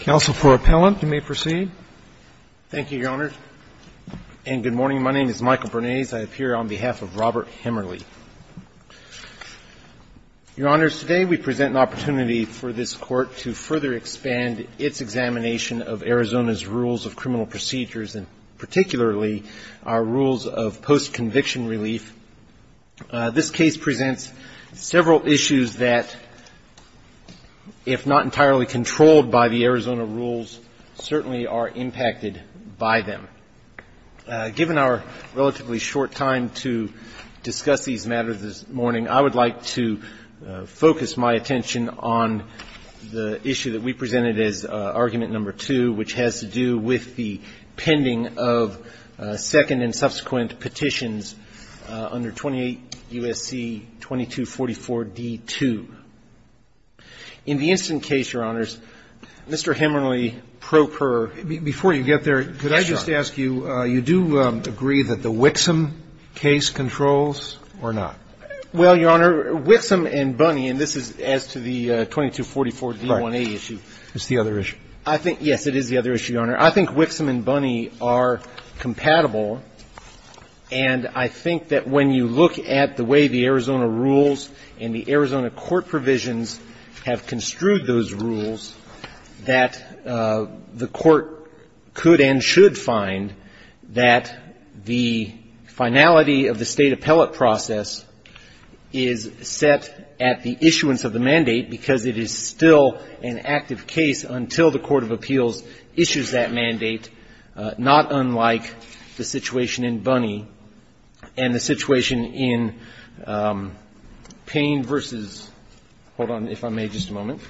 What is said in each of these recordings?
Counsel for Appellant, you may proceed. Thank you, Your Honors, and good morning. My name is Michael Bernays. I appear on behalf of Robert Hemmerle. Your Honors, today we present an opportunity for this Court to further expand its examination of Arizona's rules of criminal procedures, and particularly our rules of post-conviction relief. This case presents several issues that, if not entirely controlled by the Arizona rules, certainly are impacted by them. Given our relatively short time to discuss these matters this morning, I would like to focus my attention on the issue that we presented as argument number two, which has to do with the pending of second and subsequent petitions under 28 U.S.C. 2244d-2. In the instant case, Your Honors, Mr. Hemmerle, pro per. Before you get there, could I just ask you, you do agree that the Wixom case controls or not? Well, Your Honor, Wixom and Bunny, and this is as to the 2244d-1a issue. Right. It's the other issue. I think, yes, it is the other issue, Your Honor. I think Wixom and Bunny are compatible, and I think that when you look at the way the Arizona rules and the Arizona court provisions have construed those rules, that the Court could and should find that the finality of the State appellate process is set at the issuance of the mandate because it is still an active case until the court of appeals issues that mandate, not unlike the situation in Bunny and the situation in Payne v. — hold on, if I may, just a moment —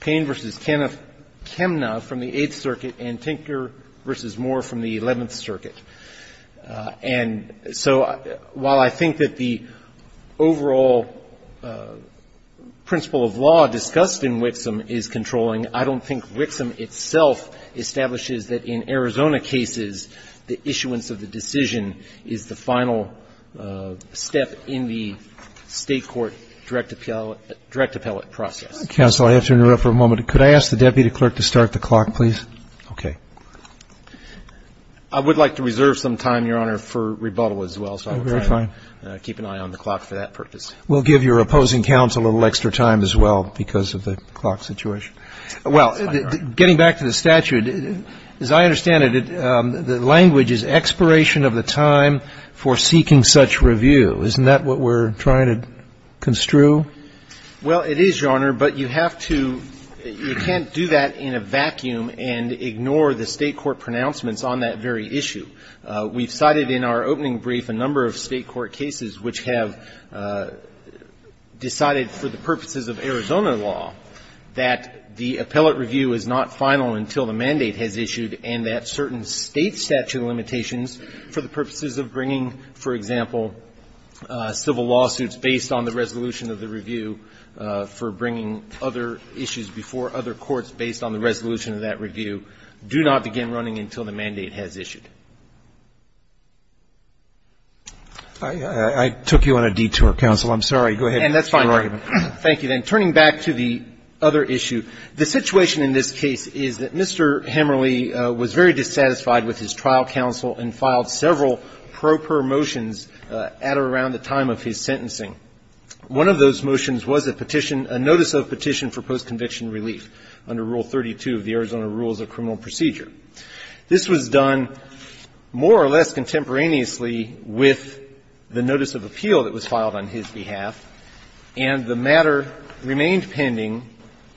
Payne v. Chemna from the Eighth Circuit and Tinker v. Moore from the Eleventh Circuit. And so while I think that the overall principle of law discussed in Wixom is controlling, I don't think Wixom itself establishes that in Arizona cases the issuance of the decision is the final step in the State court direct appellate process. Counsel, I have to interrupt for a moment. Could I ask the deputy clerk to start the clock, please? Okay. I would like to reserve some time, Your Honor, for rebuttal as well, so I'll try to keep an eye on the clock for that purpose. We'll give your opposing counsel a little extra time as well because of the clock situation. Well, getting back to the statute, as I understand it, the language is expiration of the time for seeking such review. Isn't that what we're trying to construe? Well, it is, Your Honor, but you have to — you can't do that in a vacuum and ignore the State court pronouncements on that very issue. We've cited in our opening brief a number of State court cases which have decided for the purposes of Arizona law that the appellate review is not final until the mandate has issued and that certain State statute limitations for the purposes of bringing, for example, civil lawsuits based on the resolution of the review, for bringing other issues before other courts based on the resolution of that review, do not begin running until the mandate has issued. I took you on a detour, counsel. I'm sorry. Go ahead. And that's fine. Thank you. Then turning back to the other issue, the situation in this case is that Mr. Hemerly was very dissatisfied with his trial counsel and filed several pro per motions at or around the time of his sentencing. One of those motions was a petition — a notice of petition for post-conviction relief under Rule 32 of the Arizona Rules of Criminal Procedure. This was done more or less contemporaneously with the notice of appeal that was filed on his behalf. And the matter remained pending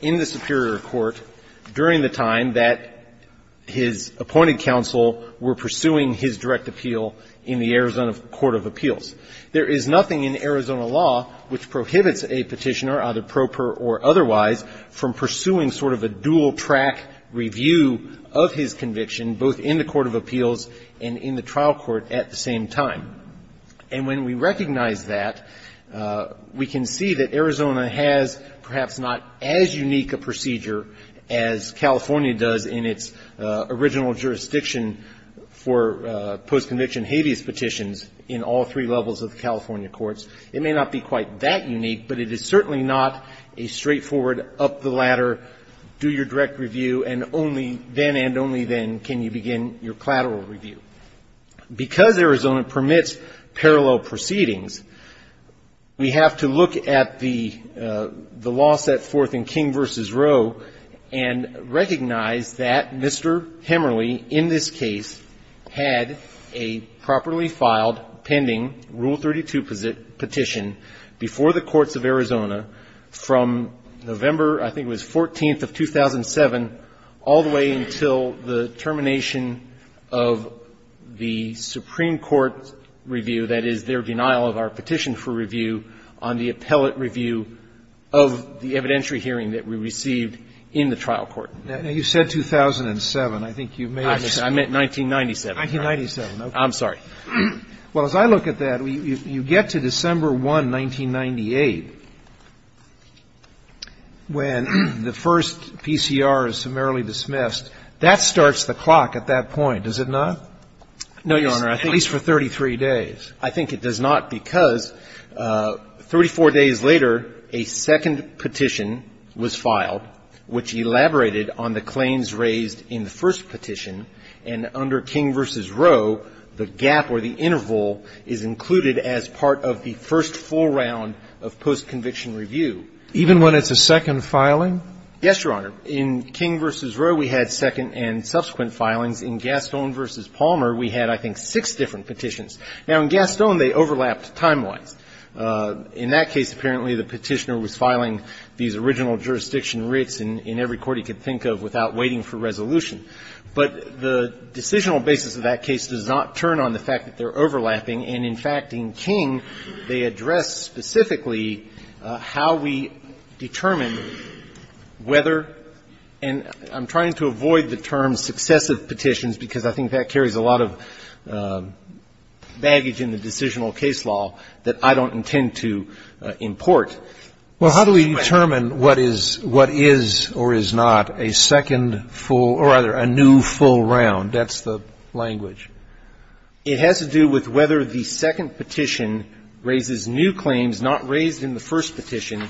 in the superior court during the time that his appointed counsel were pursuing his direct appeal in the Arizona Court of Appeals. There is nothing in Arizona law which prohibits a petitioner, either pro per or otherwise, from pursuing sort of a dual-track review of his conviction both in the court of appeals and in the trial court at the same time. And when we recognize that, we can see that Arizona has perhaps not as unique a procedure as California does in its original jurisdiction for post-conviction habeas petitions in all three levels of the California courts. It may not be quite that unique, but it is certainly not a straightforward up the ladder, do your direct review, and only then and only then can you begin your collateral review. Because Arizona permits parallel proceedings, we have to look at the law set forth in King v. Roe and recognize that Mr. Hemerly, in this case, had a properly filed, pending, Rule 32 petition before the courts of Arizona from November, I think it was 14th of 2007, all the way until the termination of Arizona's trial. And so we have to look at the Supreme Court's review, that is, their denial of our petition for review on the appellate review of the evidentiary hearing that we received in the trial court. Now, you said 2007. I think you may have said 1997. 1997, okay. I'm sorry. Well, as I look at that, you get to December 1, 1998, when the first PCR is summarily dismissed. That starts the clock at that point, does it not? No, Your Honor. At least for 33 days. I think it does not, because 34 days later, a second petition was filed which elaborated on the claims raised in the first petition, and under King v. Roe, the gap or the interval is included as part of the first full round of postconviction review. Even when it's a second filing? Yes, Your Honor. In King v. Roe, we had second and subsequent filings. In Gaston v. Palmer, we had, I think, six different petitions. Now, in Gaston, they overlapped time-wise. In that case, apparently, the petitioner was filing these original jurisdiction writs in every court he could think of without waiting for resolution. But the decisional basis of that case does not turn on the fact that they're overlapping. And, in fact, in King, they address specifically how we determine whether, and I'm trying to avoid the term successive petitions, because I think that carries a lot of baggage in the decisional case law that I don't intend to import. Well, how do we determine what is or is not a second full or, rather, a new full round? That's the language. It has to do with whether the second petition raises new claims not raised in the first petition,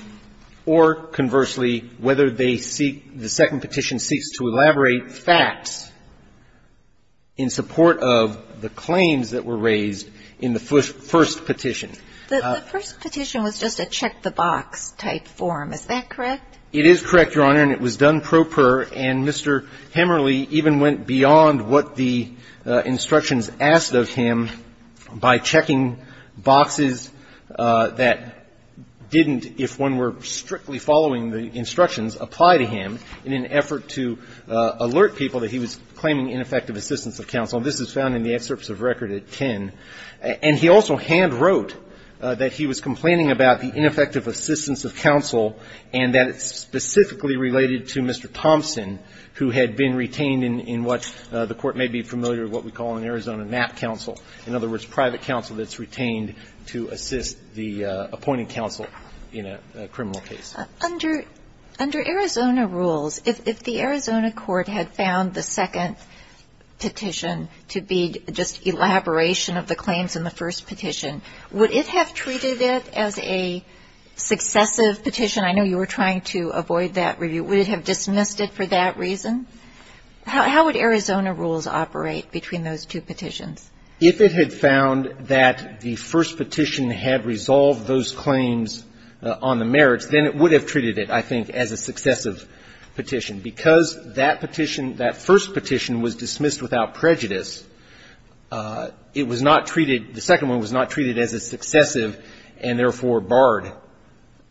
or, conversely, whether they seek, the second petition seeks to elaborate facts in support of the claims that were raised in the first petition. The first petition was just a check-the-box type form. Is that correct? It is correct, Your Honor. And it was done pro per. And Mr. Hemmerle even went beyond what the instructions asked of him by checking boxes that didn't, if one were strictly following the instructions, apply to him in an effort to alert people that he was claiming ineffective assistance of counsel. And this is found in the excerpts of record at 10. And he also hand-wrote that he was complaining about the ineffective assistance of counsel and that it's specifically related to Mr. Thompson, who had been retained in what the Court may be familiar with what we call an Arizona MAP counsel, in other words, private counsel that's retained to assist the appointing counsel in a criminal case. Under Arizona rules, if the Arizona court had found the second petition to be just elaboration of the claims in the first petition, would it have treated it as a successful petition? I know you were trying to avoid that review. Would it have dismissed it for that reason? How would Arizona rules operate between those two petitions? If it had found that the first petition had resolved those claims on the merits, then it would have treated it, I think, as a successive petition. Because that petition, that first petition was dismissed without prejudice, it was not treated, the second one was not treated as a successive and, therefore, barred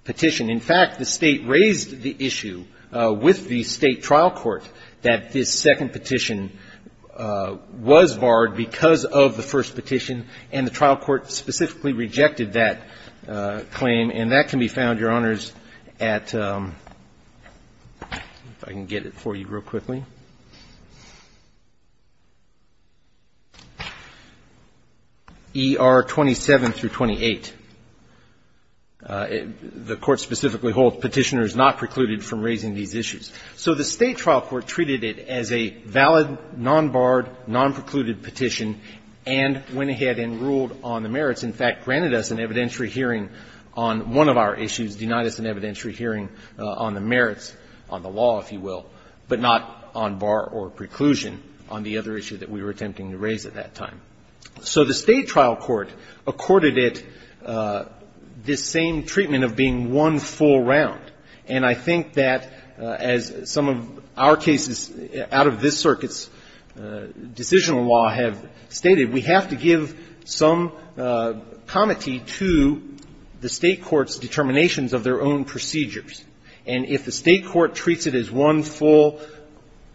petition. In fact, the State raised the issue with the State trial court that this second petition was barred because of the first petition, and the trial court specifically rejected that claim. And that can be found, Your Honors, at, if I can get it for you real quickly, ER 27 through 28. The court specifically holds Petitioner is not precluded from raising these issues. So the State trial court treated it as a valid, non-barred, non-precluded petition and went ahead and ruled on the merits. In fact, granted us an evidentiary hearing on one of our issues, denied us an evidentiary hearing on the merits, on the law, if you will, but not on bar or preclusion on the other issue that we were attempting to raise at that time. So the State trial court accorded it this same treatment of being one full round. And I think that, as some of our cases out of this circuit's decisional law have stated, we have to give some comity to the State court's determinations of their own procedures. And if the State court treats it as one full,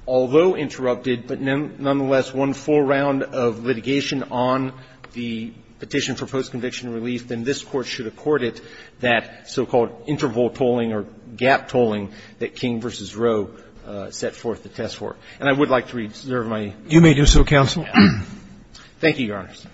although interrupted, but nonetheless one full round of litigation on the petition for post-conviction relief, then this Court should accord it that so-called interval tolling or gap tolling that King v. Rowe set forth the test for. And I would like to reserve my time. Roberts. You may do so, counsel. Thank you, Your Honors.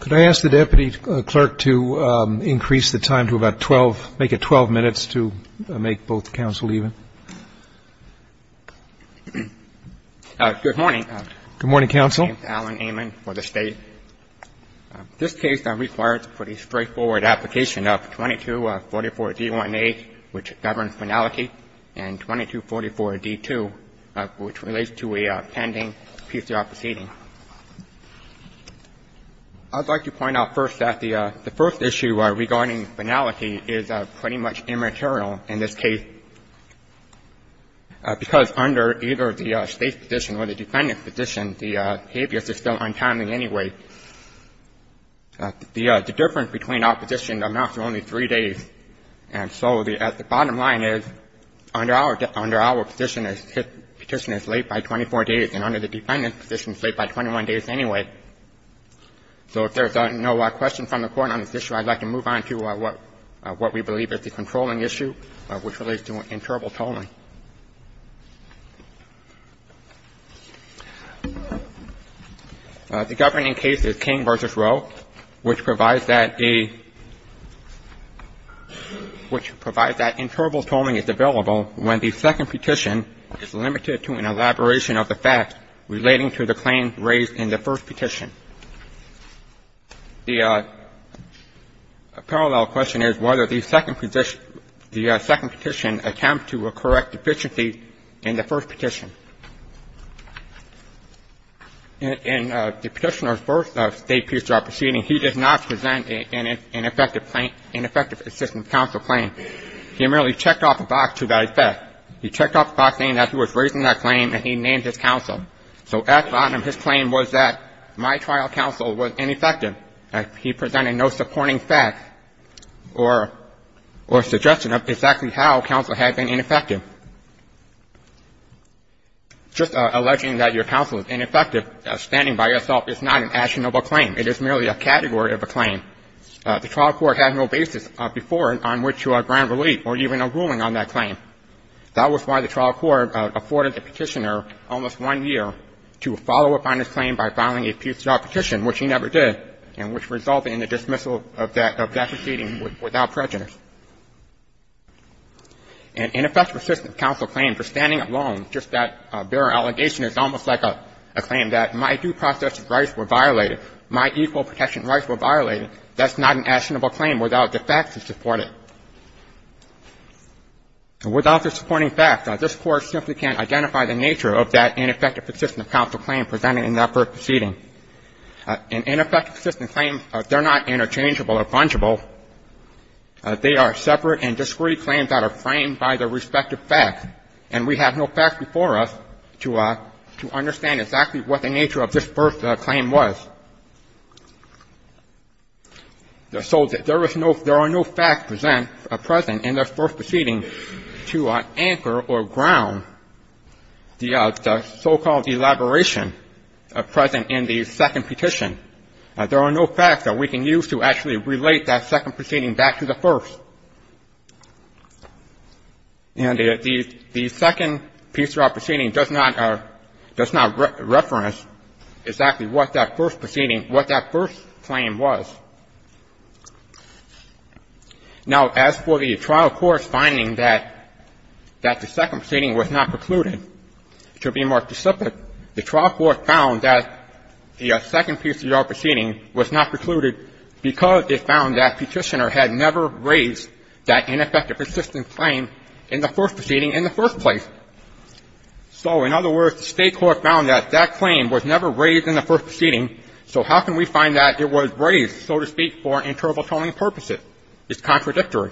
Could I ask the Deputy Clerk to increase the time to about 12, make it 12 minutes to make both counsel even? Good morning. Good morning, counsel. My name is Alan Amon for the State. This case requires a pretty straightforward application of 2244-D1A, which governs finality, and 2244-D2, which relates to a pending PCR proceeding. I'd like to point out first that the first issue regarding finality is pretty much immaterial in this case, because under either the State's position or the defendant's position, the habeas is still untimely anyway. The difference between our positions amounts to only three days. And so the bottom line is, under our position, a petition is late by 24 days, and under the defendant's position, it's late by 21 days anyway. So if there's no questions from the Court on this issue, I'd like to move on to what we believe is the controlling issue, which relates to interval tolling. The governing case is King v. Rowe, which provides that a — which provides that interval tolling is available when the second petition is limited to an elaboration of the facts relating to the claims raised in the first petition. The parallel question is whether the second petition attempts to correct deficiencies in the first petition. In the petitioner's first state PCR proceeding, he does not present an effective assistance counsel claim. He merely checked off a box to that effect. He checked off a box saying that he was raising that claim and he named his counsel. So at the bottom, his claim was that my trial counsel was ineffective. He presented no supporting facts or suggestion of exactly how counsel had been ineffective. Just alleging that your counsel is ineffective, standing by yourself, is not an actionable claim. It is merely a category of a claim. The trial court had no basis before on which to grant relief or even a ruling on that claim. That was why the trial court afforded the petitioner almost one year to follow up on his claim by filing a PCR petition, which he never did, and which resulted in the dismissal of that proceeding without prejudice. An ineffective assistance counsel claim for standing alone, just that bare allegation, is almost like a claim that my due process rights were violated, my equal protection rights were violated. That's not an actionable claim without the facts to support it. Without the supporting facts, this Court simply can't identify the nature of that ineffective assistance counsel claim presented in that first proceeding. An ineffective assistance claim, they're not interchangeable or fungible. They are separate and discrete claims that are framed by their respective facts. And we have no facts before us to understand exactly what the nature of this first claim was. So there are no facts present in that first proceeding to anchor or ground the so-called elaboration present in the second petition. There are no facts that we can use to actually relate that second proceeding back to the first. And the second piece of our proceeding does not reference exactly what that first proceeding, what that first claim was. Now, as for the trial court's finding that the second proceeding was not precluded, to be more specific, the trial court found that the second piece of your proceeding was not precluded because it found that Petitioner had never raised that ineffective assistance claim in the first proceeding in the first place. So, in other words, the state court found that that claim was never raised in the first proceeding. So how can we find that it was raised, so to speak, for interrelational purposes? It's contradictory.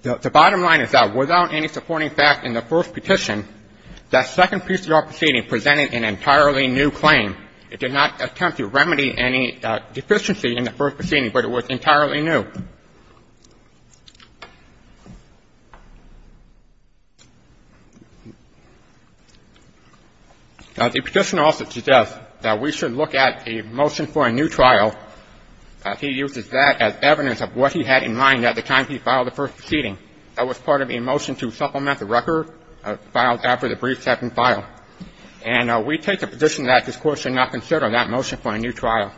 The bottom line is that without any supporting fact in the first petition, that second piece of your proceeding presented an entirely new claim. It did not attempt to remedy any deficiency in the first proceeding, but it was entirely new. Now, the Petitioner also suggests that we should look at a motion for a new trial. He uses that as evidence of what he had in mind at the time he filed the first proceeding. That was part of a motion to supplement the record filed after the brief second file. And we take a position that this Court should not consider that motion for a new trial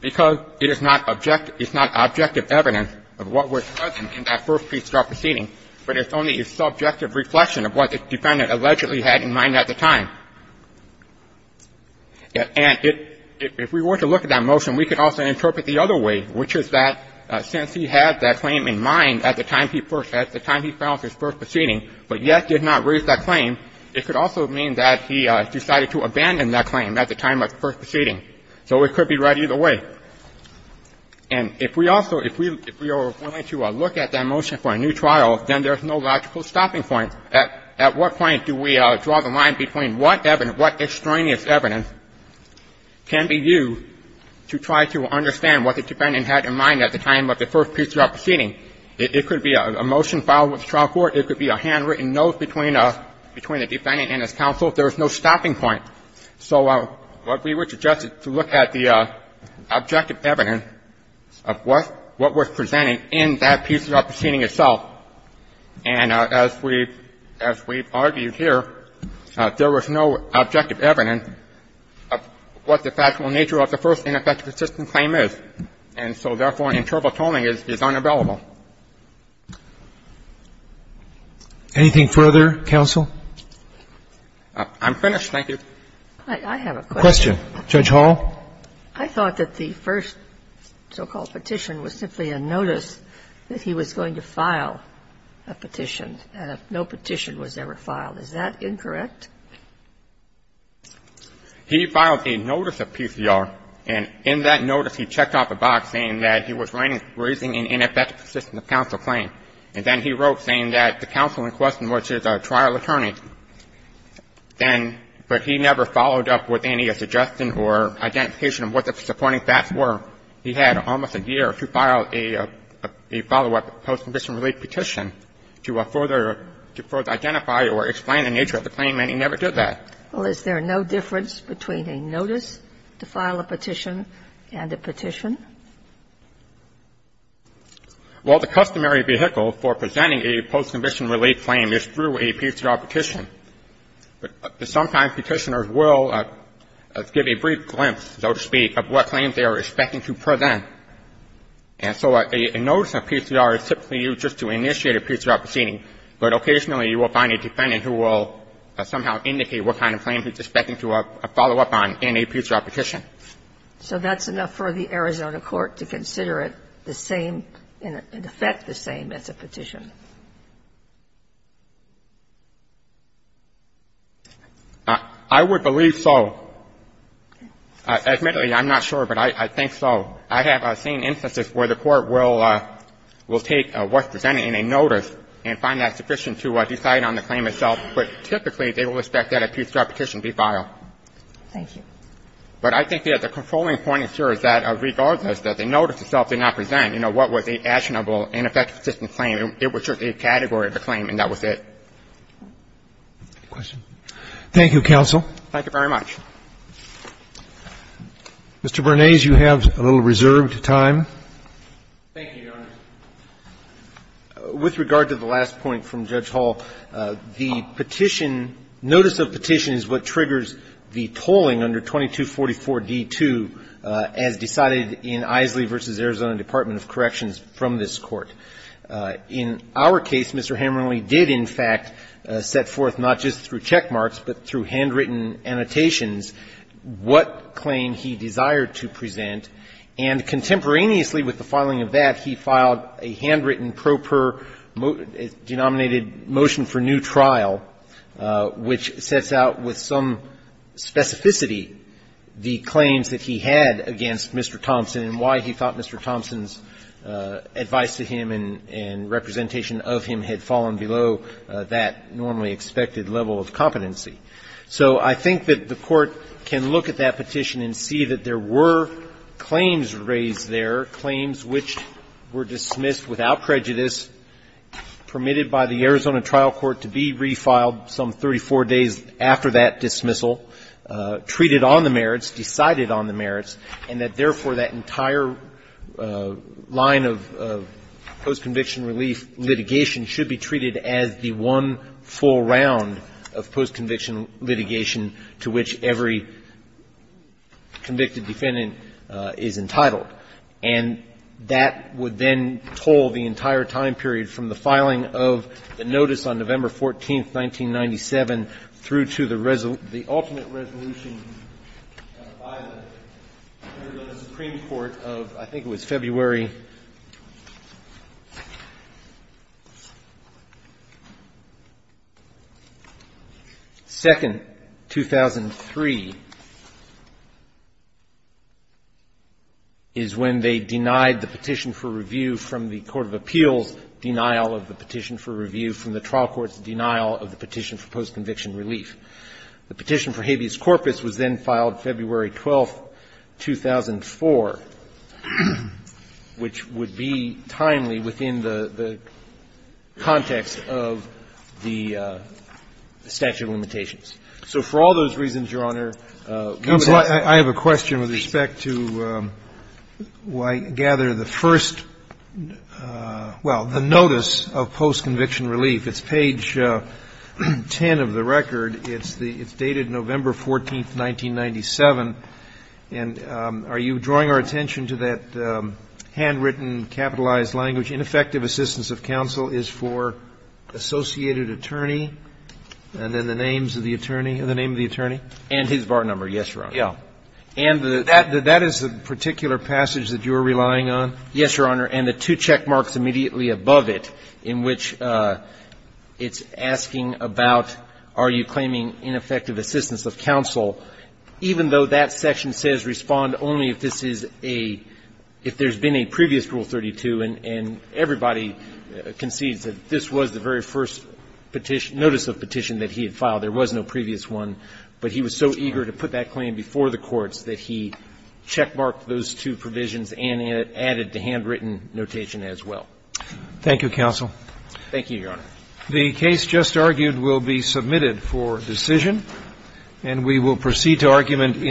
because it is not objective, it's not objective evidence that the first proceeding was present in that first piece of our proceeding, but it's only a subjective reflection of what the defendant allegedly had in mind at the time. And if we were to look at that motion, we could also interpret the other way, which is that since he had that claim in mind at the time he filed his first proceeding but yet did not raise that claim, it could also mean that he decided to abandon that claim at the time of the first proceeding. So it could be right either way. And if we also, if we are willing to look at that motion for a new trial, then there is no logical stopping point. At what point do we draw the line between what evidence, what extraneous evidence can be used to try to understand what the defendant had in mind at the time of the first piece of our proceeding? It could be a motion filed with the trial court. It could be a handwritten note between the defendant and his counsel. There is no stopping point. So what we would suggest is to look at the objective evidence of what was presented in that piece of our proceeding itself. And as we've argued here, there was no objective evidence of what the factual nature of the first ineffective assistance claim is. And so, therefore, an interval tolling is unavailable. I'm finished, thank you. I have a question. A question. Judge Hall. I thought that the first so-called petition was simply a notice that he was going to file a petition, and no petition was ever filed. Is that incorrect? He filed a notice of PCR, and in that notice he checked off the box saying that he was raising an ineffective assistance counsel claim. And then he wrote saying that the counsel in question was just a trial attorney. Then, but he never followed up with any suggestion or identification of what the supporting facts were. He had almost a year to file a follow-up post-conviction relief petition to further identify or explain the nature of the claim, and he never did that. Well, is there no difference between a notice to file a petition and a petition? Well, the customary vehicle for presenting a post-conviction relief claim is through a PCR petition, but sometimes petitioners will give a brief glimpse, so to speak, of what claims they are expecting to present. And so a notice of PCR is typically used just to initiate a PCR proceeding, but occasionally you will find a defendant who will somehow indicate what kind of claim he's expecting to follow up on in a PCR petition. So that's enough for the Arizona court to consider it the same, in effect the same as a petition. I would believe so. Admittedly, I'm not sure, but I think so. I have seen instances where the Court will take what's presented in a notice and find that sufficient to decide on the claim itself. But typically, they will expect that a PCR petition be filed. Thank you. But I think that the controlling point here is that regardless that the notice itself did not present, you know, what was a actionable and effective assistance claim, it was just a category of a claim, and that was it. Thank you, counsel. Thank you very much. Mr. Bernays, you have a little reserved time. Thank you, Your Honor. With regard to the last point from Judge Hall, the petition, notice of petition is what triggers the tolling under 2244d-2 as decided in Eiseley v. Arizona Department of Corrections from this Court. In our case, Mr. Hammerle did, in fact, set forth not just through checkmarks but through handwritten annotations what claim he desired to present. And contemporaneously with the filing of that, he filed a handwritten pro per denominated motion for new trial, which sets out with some specificity the claims that he had against Mr. Thompson and why he thought Mr. Thompson's advice to him and representation of him had fallen below that normally expected level of competency. So I think that the Court can look at that petition and see that there were claims raised there, claims which were dismissed without prejudice, permitted by the Arizona trial court to be refiled some 34 days after that dismissal, treated on the merits, decided on the merits, and that, therefore, that entire line of post-conviction relief litigation should be treated as the one full round of post-conviction litigation to which every convicted defendant is entitled. And that would then toll the entire time period from the filing of the notice on November 14, 1997, through to the ultimate resolution by the Arizona Supreme Court of, I think 2003, is when they denied the petition for review from the court of appeals denial of the petition for review from the trial court's denial of the petition for post-conviction relief. The petition for habeas corpus was then filed February 12, 2004, which would be timely within the context of the statute of limitations. So for all those reasons, Your Honor, we would have to do that. Roberts. Counsel, I have a question with respect to, I gather, the first – well, the notice of post-conviction relief. It's page 10 of the record. It's the – it's dated November 14, 1997. And are you drawing our attention to that handwritten, capitalized language, ineffective assistance of counsel is for associated attorney, and then the names of the attorney, the name of the attorney? And his bar number, yes, Your Honor. Yeah. And that is the particular passage that you're relying on? Yes, Your Honor. And the two check marks immediately above it in which it's asking about are you claiming ineffective assistance of counsel, even though that section says respond only if this is a – if there's been a previous Rule 32, and everybody concedes that this was the very first notice of petition that he had filed. There was no previous one, but he was so eager to put that claim before the courts that he checkmarked those two provisions and added the handwritten notation as well. Thank you, counsel. Thank you, Your Honor. The case just argued will be submitted for decision, and we will proceed to argument